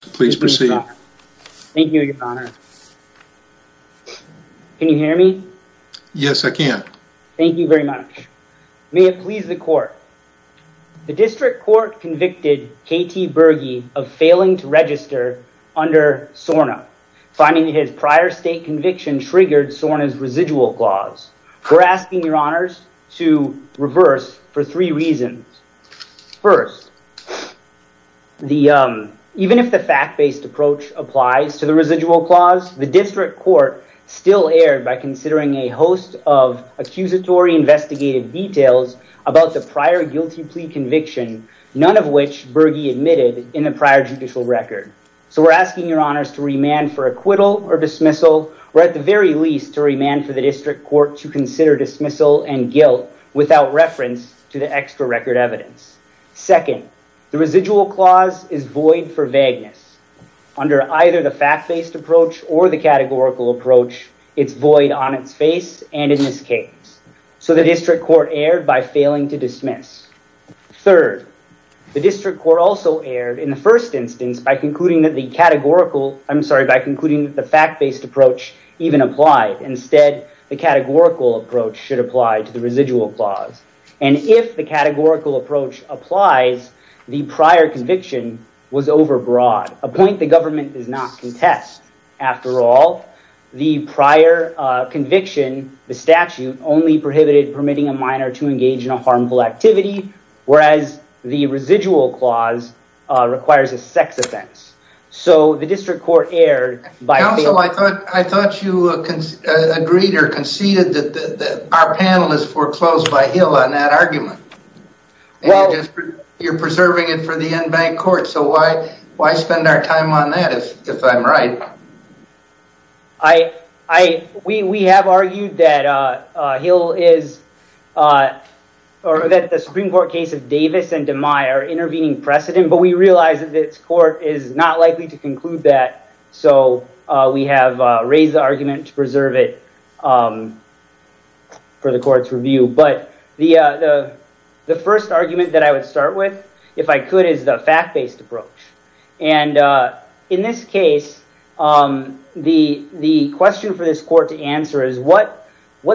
Please proceed. Thank you, your honor. Can you hear me? Yes, I can. Thank you very much. May it please the court. The district court convicted KT Burgee of failing to register under SORNA, finding his prior state conviction triggered SORNA's residual clause. We're asking your honors to reverse for three reasons. First, even if the fact-based approach applies to the residual clause, the district court still erred by considering a host of accusatory investigative details about the prior guilty plea conviction, none of which Burgee admitted in a prior judicial record. So we're asking your honors to remand for acquittal or dismissal, or at the very least, to remand for the district court to consider dismissal and guilt without reference to the extra record evidence. Second, the residual clause is void for vagueness. Under either the fact-based approach or the categorical approach, it's void on its face and in its case. So the district court erred by failing to dismiss. Third, the district court also erred in the first instance by concluding that the categorical, I'm sorry, by concluding that the fact-based approach even applied. Instead, the categorical approach should apply to the residual clause. And if the categorical approach applies, the prior conviction was overbroad, a point the government does not contest. After all, the prior conviction, the statute, only prohibited permitting a minor to engage in a harmful activity, whereas the residual clause requires a sex offense. So the district court erred by- I thought you agreed or conceded that our panel is foreclosed by Hill on that argument. You're preserving it for the in-bank court, so why spend our time on that if I'm right? We have argued that the Supreme Court case of Davis and DeMeyer are intervening precedent, but we realize that this court is not likely to conclude that. So we have raised the argument to preserve it for the court's review. But the first argument that I would start with, if I could, is the fact-based approach. And in this case, the question for this court to answer is what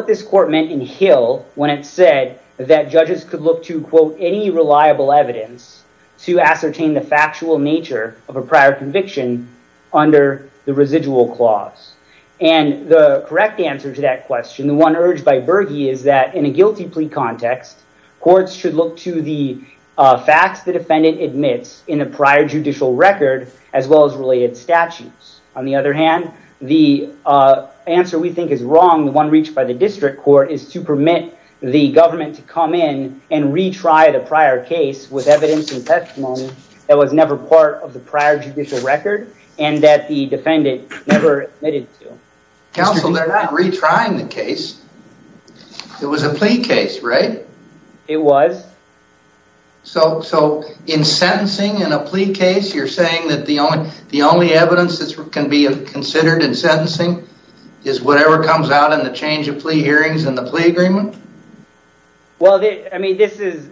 this court meant in Hill when it said that judges could look to, quote, any reliable evidence to ascertain the factual nature of a prior conviction under the residual clause. And the correct answer to that question, the one urged by Berge is that in a guilty plea context, courts should look to the facts the defendant admits in a prior judicial record, as well as related statutes. On the other hand, the answer we think is wrong, the one reached by prior case was evidence and testimony that was never part of the prior judicial record and that the defendant never admitted to. Counsel, they're not retrying the case. It was a plea case, right? It was. So in sentencing in a plea case, you're saying that the only evidence that can be considered in sentencing is whatever comes out in the change of plea hearings and the plea agreement? Well, I mean, this is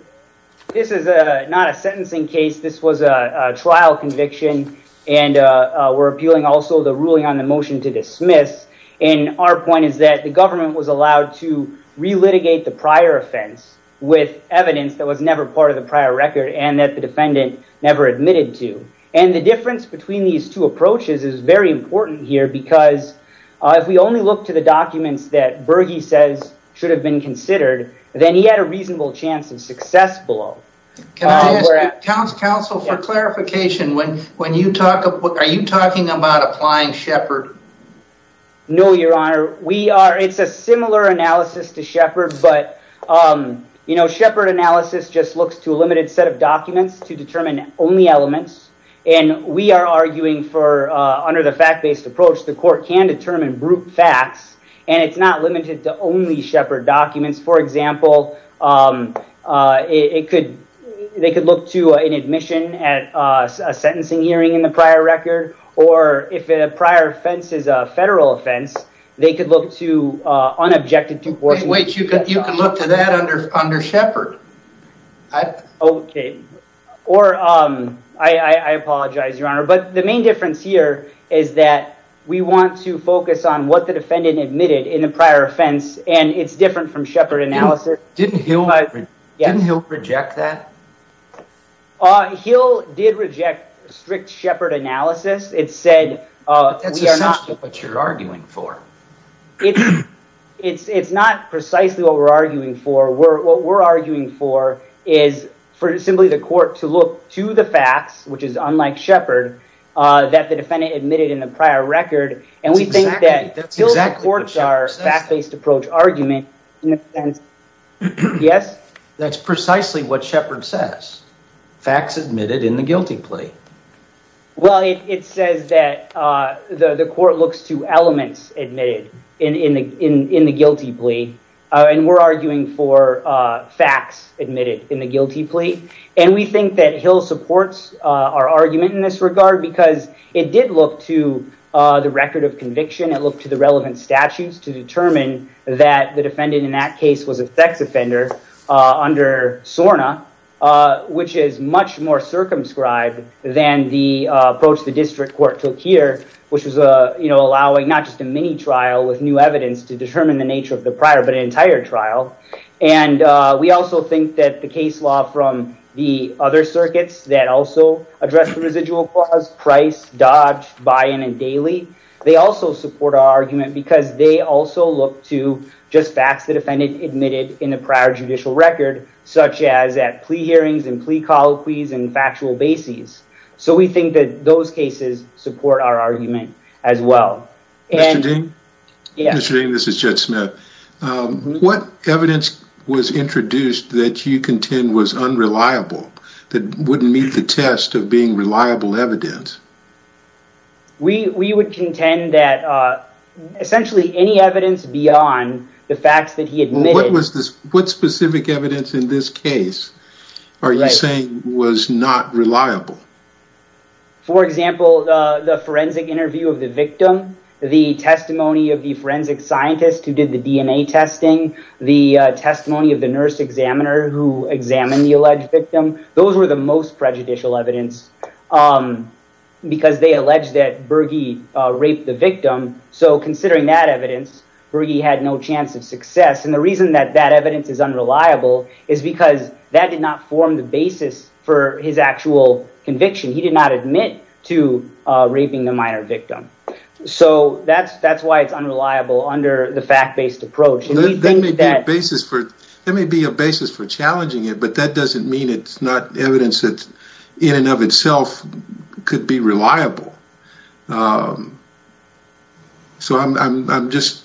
not a sentencing case. This was a trial conviction. And we're appealing also the ruling on the motion to dismiss. And our point is that the government was allowed to relitigate the prior offense with evidence that was never part of the prior record and that the defendant never admitted to. And the difference between these two approaches is very important here because if we only look to the documents that Berge says should have been considered, then he had a reasonable chance of success below. Can I ask counsel for clarification? Are you talking about applying Shepard? No, your honor. It's a similar analysis to Shepard, but Shepard analysis just looks to a limited set of documents to determine only elements. And we are arguing for under the fact-based approach, the court can determine group facts, and it's not limited to only Shepard documents. For example, they could look to an admission at a sentencing hearing in the prior record, or if a prior offense is a federal offense, they could look to unobjected... You can look to that under Shepard. Okay. I apologize, your honor. But the main difference here is that we want to focus on what the defendant admitted in a prior offense, and it's different from Shepard analysis. Didn't Hill reject that? Hill did reject strict Shepard analysis. It said... That's essentially what you're arguing for. It's not precisely what we're arguing for. What we're arguing for is for simply the court to look to the facts, which is unlike Shepard, that the defendant admitted in the prior record. And we think that... That's exactly what Shepard says. ...our fact-based approach argument in a sense. Yes? That's precisely what Shepard says. Facts admitted in the guilty plea. Well, it says that the court looks to elements admitted in the guilty plea, and we're arguing for facts admitted in the guilty plea. And we think that Hill supports our argument in this regard because it did look to the record of conviction. It looked to the relevant statutes to determine that the defendant in that case was a sex offender under SORNA, which is much more circumscribed than the approach the district court took here, which was allowing not just a mini trial with new evidence to determine the nature of the prior, but an entire trial. And we also think that the case law from the other circuits that also address the residual clause, price, dodge, buy-in, and daily, they also support our argument because they also look to just facts the defendant admitted in a prior judicial record, such as at plea hearings and plea colloquies and factual bases. So we think that those cases support our argument as well. Mr. Dean? Yes? Mr. Dean, this is Judd Smith. What evidence was introduced that you contend was unreliable, that wouldn't meet the test of being reliable evidence? We would contend that essentially any evidence beyond the facts that he admitted... What specific evidence in this case are you saying was not reliable? For example, the forensic interview of the victim, the testimony of the forensic scientist who did the DNA testing, the testimony of the nurse examiner who examined the alleged victim, those were the most prejudicial evidence because they alleged that Berge raped the victim. So considering that evidence, Berge had no chance of success. And the reason that that evidence is unreliable is because that did not form the basis for his actual conviction. He did not admit to raping the minor victim. So that's why it's unreliable under the fact-based approach. That may be a basis for challenging it, but that doesn't mean it's not evidence that in and of itself could be reliable. So I'm just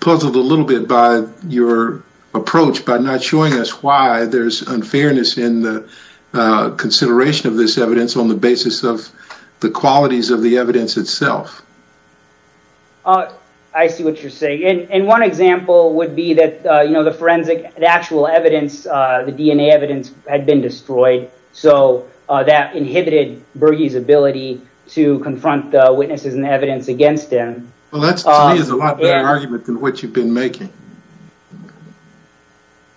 puzzled a little bit by your approach by not showing us why there's unfairness in the consideration of this evidence on the basis of the qualities of the evidence itself. I see what you're saying. And one example would be that the forensic, the actual evidence, the DNA evidence had been destroyed. So that inhibited Berge's ability to confront the witnesses and evidence against him. Well, that to me is a lot better argument than what you've been making.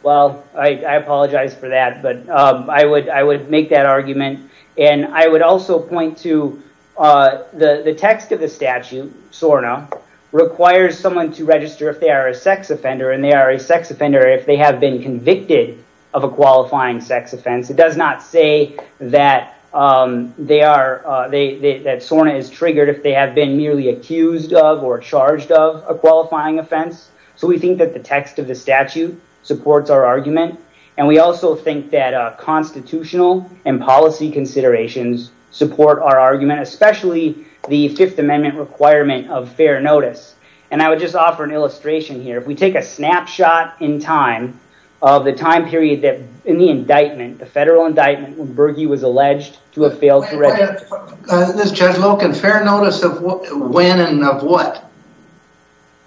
Well, I apologize for that, but I would make that argument. And I would also point to the text of the statute, SORNA, requires someone to register if they are a sex offender, and they are a sex offender if they have been convicted of a qualifying sex offense. It does not say that SORNA is triggered if they have been merely accused of or charged of a qualifying offense. So we think that the text of the statute supports our argument. And we also think that constitutional and policy considerations support our argument, especially the Fifth Amendment requirement of fair notice. And I would just offer an illustration here. If we take a snapshot in time of the time period that in the indictment, the federal indictment when Berge was alleged to have failed to register. Judge Loken, fair notice of when and of what?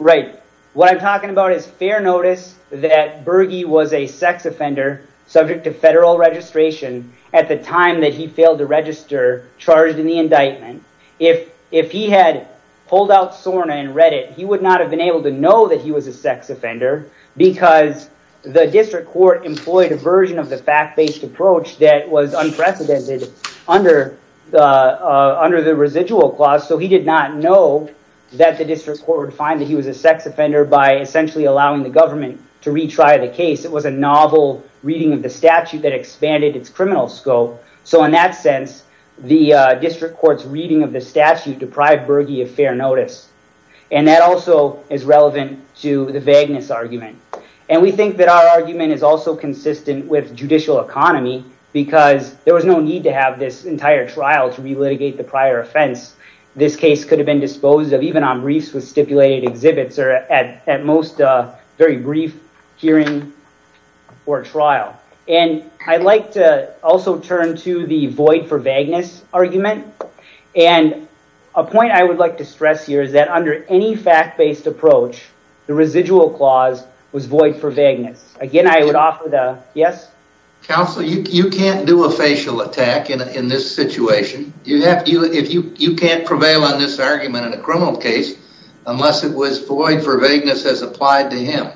Right. What I'm talking about is fair notice that Berge was a sex offender subject to federal registration at the time that he failed to register, charged in the indictment. If he had pulled out SORNA and read it, he would not have been able to know that he was a sex offender because the district court employed a version of the fact-based approach that was unprecedented under the residual clause. So he did not know that the district court would find that he was a sex offender by essentially allowing the government to retry the case. It was a novel reading of the statute that expanded its criminal scope. So in that sense, the district court's reading of the statute deprived Berge of fair notice. And that also is relevant to the vagueness argument. And we think that our argument is also consistent with judicial economy because there was no need to have this entire trial to re-litigate the prior offense. This case could have been And I'd like to also turn to the void for vagueness argument. And a point I would like to stress here is that under any fact-based approach, the residual clause was void for vagueness. Again, I would offer the yes. Counsel, you can't do a facial attack in this situation. You can't prevail on this argument in a criminal case unless it was void for vagueness as applied to him.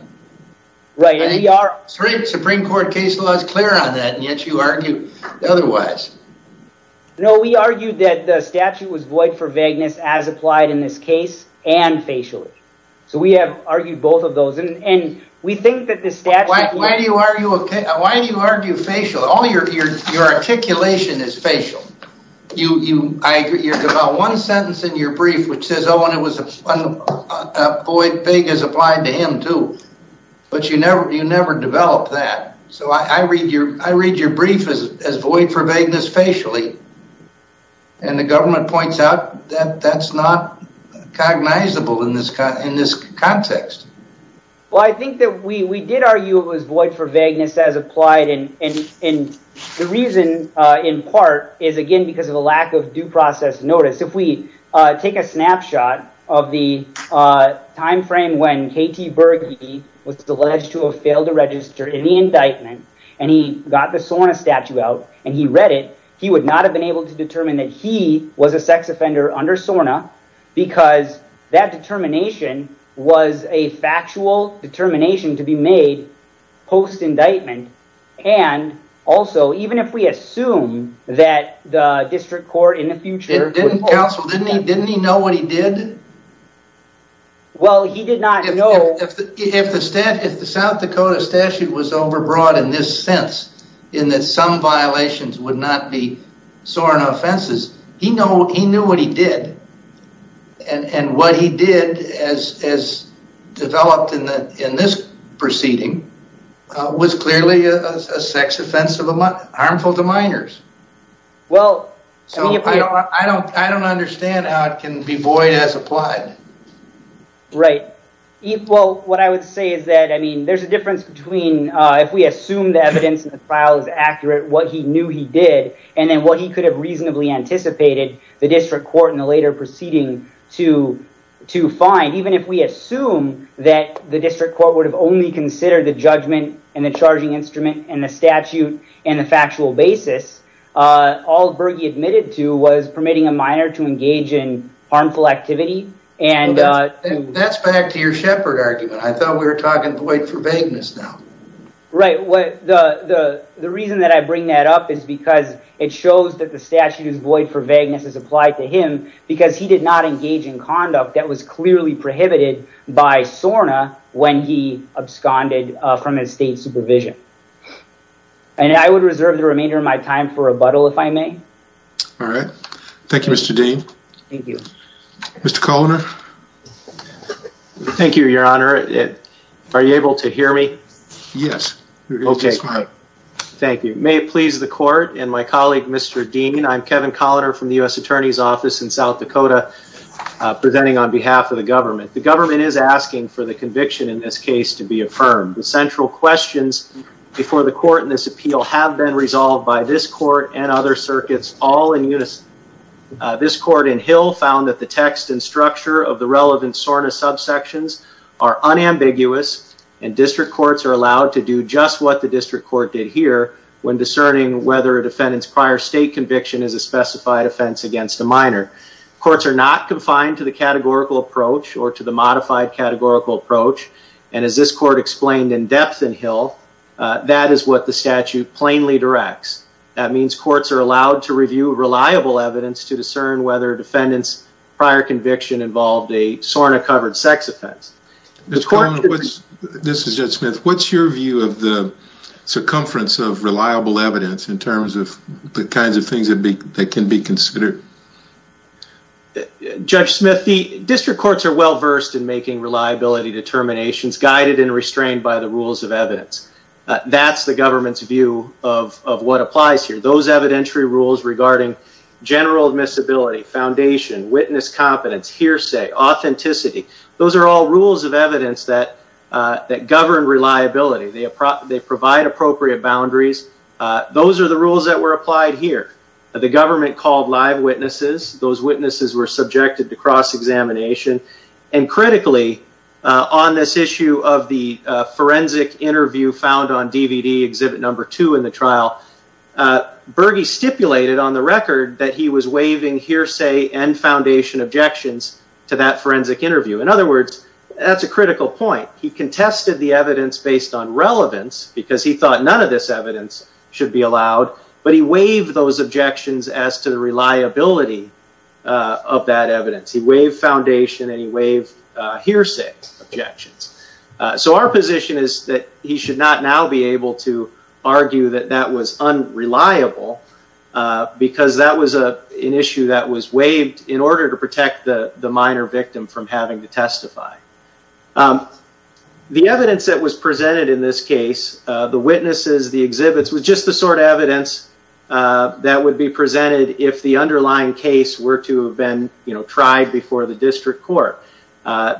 Right. The Supreme Court case law is clear on that, and yet you argue otherwise. No, we argued that the statute was void for vagueness as applied in this case and facially. So we have argued both of those. And we think that the statute... Why do you argue facial? All your articulation is facial. I agree. There's about one sentence in your brief which says, oh, and it was void vagueness applied to him too. But you never develop that. So I read your brief as void for vagueness facially. And the government points out that that's not cognizable in this context. Well, I think that we did argue it was void for vagueness as applied. And the reason in part is, again, because of the lack of due process notice. If we take a snapshot of the time frame when KT Berge was alleged to have failed to register any indictment and he got the SORNA statute out and he read it, he would not have been able to determine that he was a sex offender under SORNA because that determination was a factual determination to be made post-indictment. And also, even if we assume that the district court in the future... Counsel, didn't he know what he did? Well, he did not know... If the South Dakota statute was overbroad in this sense, in that some violations would not be SORNA offenses, he knew what he did. And what he did as developed in this proceeding was clearly a sex offense harmful to minors. I don't understand how it can be void as applied. Right. What I would say is that there's a difference between if we assume the evidence in the file is accurate, what he knew he did, and then what he could have reasonably anticipated the district court in the later proceeding to find. Even if we assume that the district court would have only considered the judgment and the charging instrument and the statute and the factual basis, all Berge admitted to was permitting a minor to engage in harmful activity. And that's back to your shepherd argument. I thought we were talking void for vagueness now. Right. The reason that I bring that up is because it shows that the statute is void for vagueness as applied to him because he did not engage in conduct that was clearly prohibited by SORNA when he absconded from his state supervision. And I would reserve the remainder of my time for rebuttal, if I may. All right. Thank you, Mr. Dean. Thank you. Mr. Coloner. Thank you, your honor. Are you able to hear me? Yes. Thank you. May it please the court and my colleague, Mr. Dean, I'm Kevin Coloner from the district court. The government is asking for the conviction in this case to be affirmed. The central questions before the court in this appeal have been resolved by this court and other circuits all in unison. This court in Hill found that the text and structure of the relevant SORNA subsections are unambiguous and district courts are allowed to do just what the district court did here when discerning whether a defendant's prior state conviction is a specified offense against a minor. Courts are not confined to the categorical approach or to the modified categorical approach. And as this court explained in depth in Hill, that is what the statute plainly directs. That means courts are allowed to review reliable evidence to discern whether defendants' prior conviction involved a SORNA covered sex offense. This is Judge Smith. What's your view of the circumference of reliable evidence in terms of the kinds of things that can be considered? Judge Smith, the district courts are well versed in making reliability determinations guided and restrained by the rules of evidence. That's the government's view of what applies here. Those evidentiary rules regarding general admissibility, foundation, witness competence, hearsay, authenticity, those are all rules of evidence that govern reliability. They provide appropriate boundaries. Those are rules that were applied here. The government called live witnesses. Those witnesses were subjected to cross-examination. And critically, on this issue of the forensic interview found on DVD, exhibit number two in the trial, Berge stipulated on the record that he was waiving hearsay and foundation objections to that forensic interview. In other words, that's a critical point. He contested the evidence based on relevance because he thought none of this evidence should be allowed. But he waived those objections as to the reliability of that evidence. He waived foundation and he waived hearsay objections. So our position is that he should not now be able to argue that that was unreliable because that was an issue that was waived in order to protect the minor victim from having to testify. The evidence that was presented in this case, the witnesses, the exhibits, was just the sort of evidence that would be presented if the underlying case were to have been tried before the district court.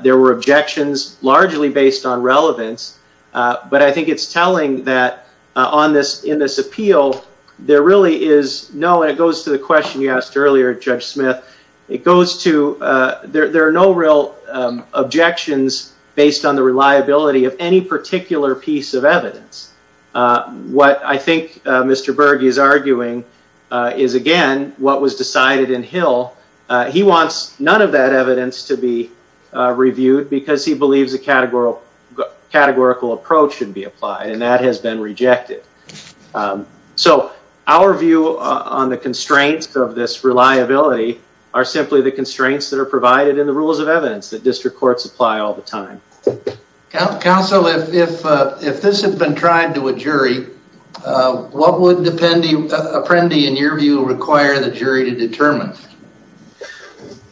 There were objections largely based on relevance. But I think it's telling that on this, in this appeal, there really is no, and it goes to the question you asked earlier, Judge Smith, it goes to there are no real objections based on the reliability of any particular piece of evidence. What I think Mr. Berge is arguing is, again, what was decided in Hill. He wants none of that evidence to be reviewed because he believes a categorical approach should be applied. And that has been rejected. So our view on the constraints of this liability are simply the constraints that are provided in the rules of evidence that district courts apply all the time. Counsel, if this had been tried to a jury, what would Apprendi, in your view, require the jury to determine?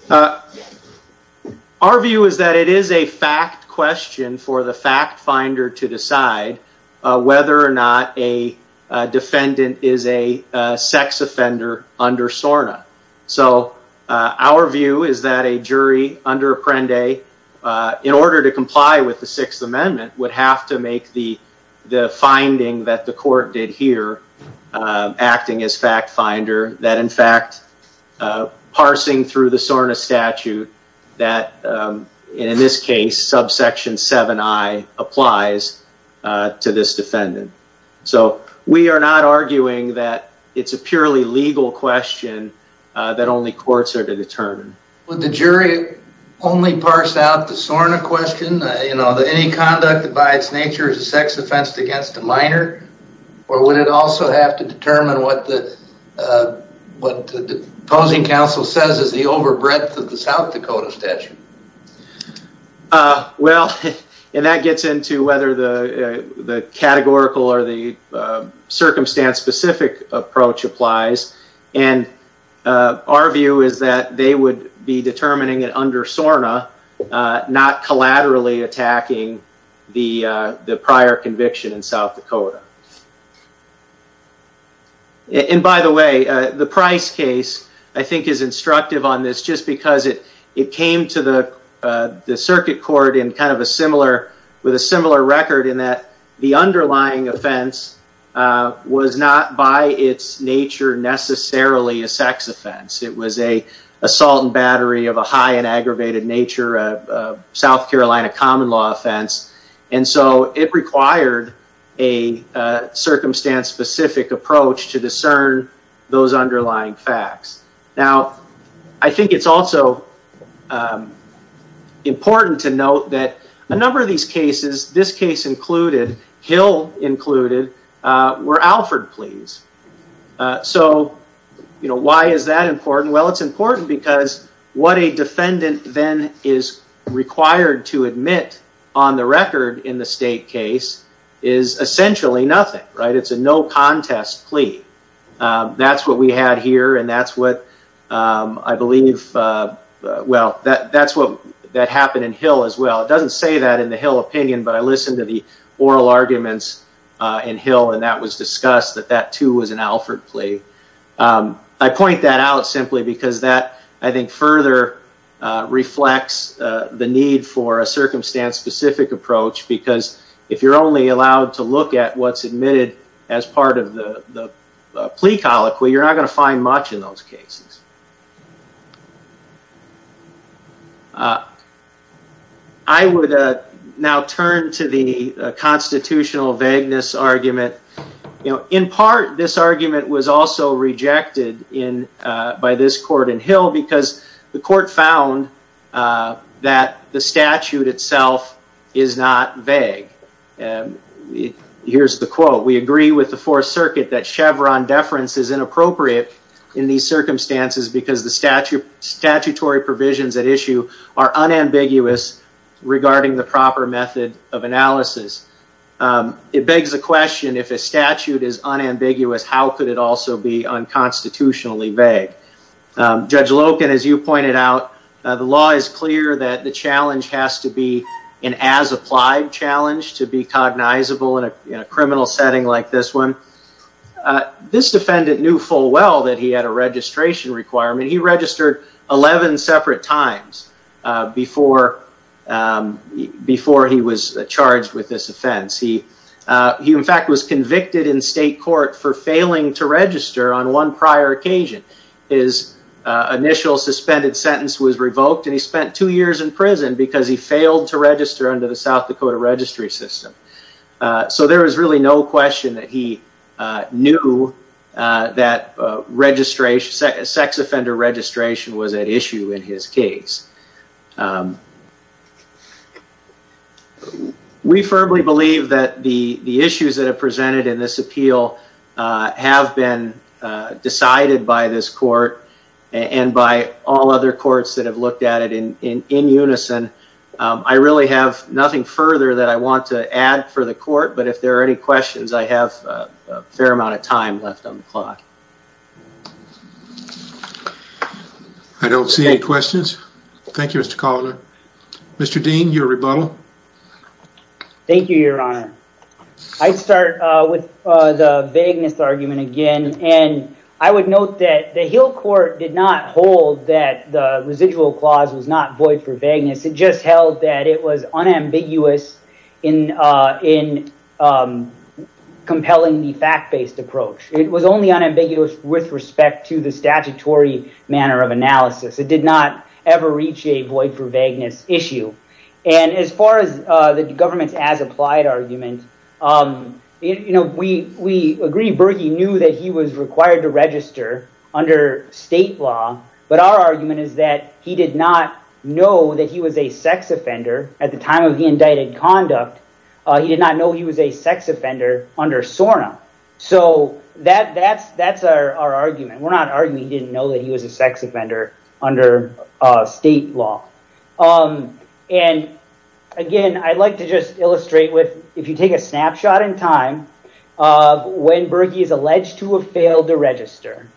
Our view is that it is a fact question for the fact finder to decide whether or not a defendant is a sex offender under SORNA. So our view is that a jury under Apprendi, in order to comply with the Sixth Amendment, would have to make the finding that the court did here, acting as fact finder, that in fact, parsing through the SORNA statute that in this case, subsection 7i applies to this defendant. So we are not arguing that it's a purely legal question that only courts are to determine. Would the jury only parse out the SORNA question? Any conduct by its nature is a sex offense against a minor? Or would it also have to determine what the opposing counsel says is the over breadth of the South Dakota statute? Well, and that gets into whether the categorical or the circumstance specific approach applies. And our view is that they would be determining it under SORNA, not collaterally attacking the prior conviction in South Dakota. And by the way, the Price case, I think, is instructive on this, just because it came to the circuit court in kind of a similar, with a similar record in that the underlying offense was not by its nature necessarily a sex offense. It was an assault and battery of a high and circumstance specific approach to discern those underlying facts. Now, I think it's also important to note that a number of these cases, this case included, Hill included, were Alford pleas. So why is that important? Well, it's important because what a defendant then is required to admit on the record in the state case is essentially nothing, right? It's a no contest plea. That's what we had here, and that's what I believe, well, that's what that happened in Hill as well. It doesn't say that in the Hill opinion, but I listened to the oral arguments in Hill, and that was discussed, that that too was an Alford plea. I point that out simply because that, I think, further reflects the need for a circumstance specific approach because if you're only allowed to look at what's admitted as part of the plea colloquy, you're not going to find much in those cases. I would now turn to the constitutional vagueness argument. In part, this argument was also rejected by this court in Hill because the court found that the statute itself is not vague. Here's the quote. We agree with the Fourth Circuit that Chevron deference is inappropriate in these circumstances because the statutory provisions at issue are unambiguous regarding the proper method of analysis. It begs the question, if a statute is unambiguous, how could it also be unconstitutionally vague? Judge Loken, as you pointed out, the law is clear that the challenge has to be an as applied challenge to be cognizable in a criminal setting like this one. This defendant knew full well that he had a registration requirement. He registered 11 separate times before he was charged with this offense. He, in fact, was convicted in state court for failing to register on one prior occasion. His initial suspended sentence was revoked and he spent two years in prison because he failed to register under the South Dakota registry system. So there was really no question that he knew that sex offender registration was at issue in his case. We firmly believe that the issues that are presented in this appeal have been decided by this court and by all other courts that have looked at it in unison. I really have nothing further that I want to add for the court, but if there are any questions, I have a fair amount of time left on the clock. I don't see any questions. Thank you, Mr. Collier. Mr. Dean, your rebuttal. Thank you, your honor. I'd start with the vagueness argument again, and I would note that the Hill court did not hold that the residual clause was not void for vagueness. It just held that it was unambiguous in compelling the fact-based approach. It was only unambiguous with respect to the statutory manner of analysis. It did not ever reach a void for vagueness issue. As far as the government's as-applied argument, we agree Berkey knew that he was required to at the time of the indicted conduct, he did not know he was a sex offender under SORNA. That's our argument. We're not arguing he didn't know that he was a sex offender under state law. Again, I'd like to just illustrate with, if you take a snapshot in time of when Berkey is alleged to have failed to register,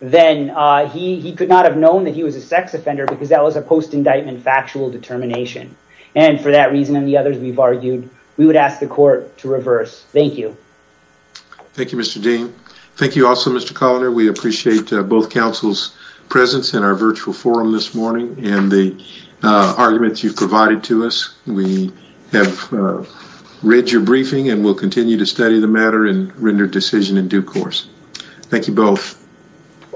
then he could not have known that he was a sex offender because that was a post-indictment factual determination. For that reason and the others we've argued, we would ask the court to reverse. Thank you. Thank you, Mr. Dean. Thank you also, Mr. Coloner. We appreciate both counsel's presence in our virtual forum this morning and the arguments you've provided to us. We have read your briefing and will continue to study the matter and render decision in due course. Thank you both.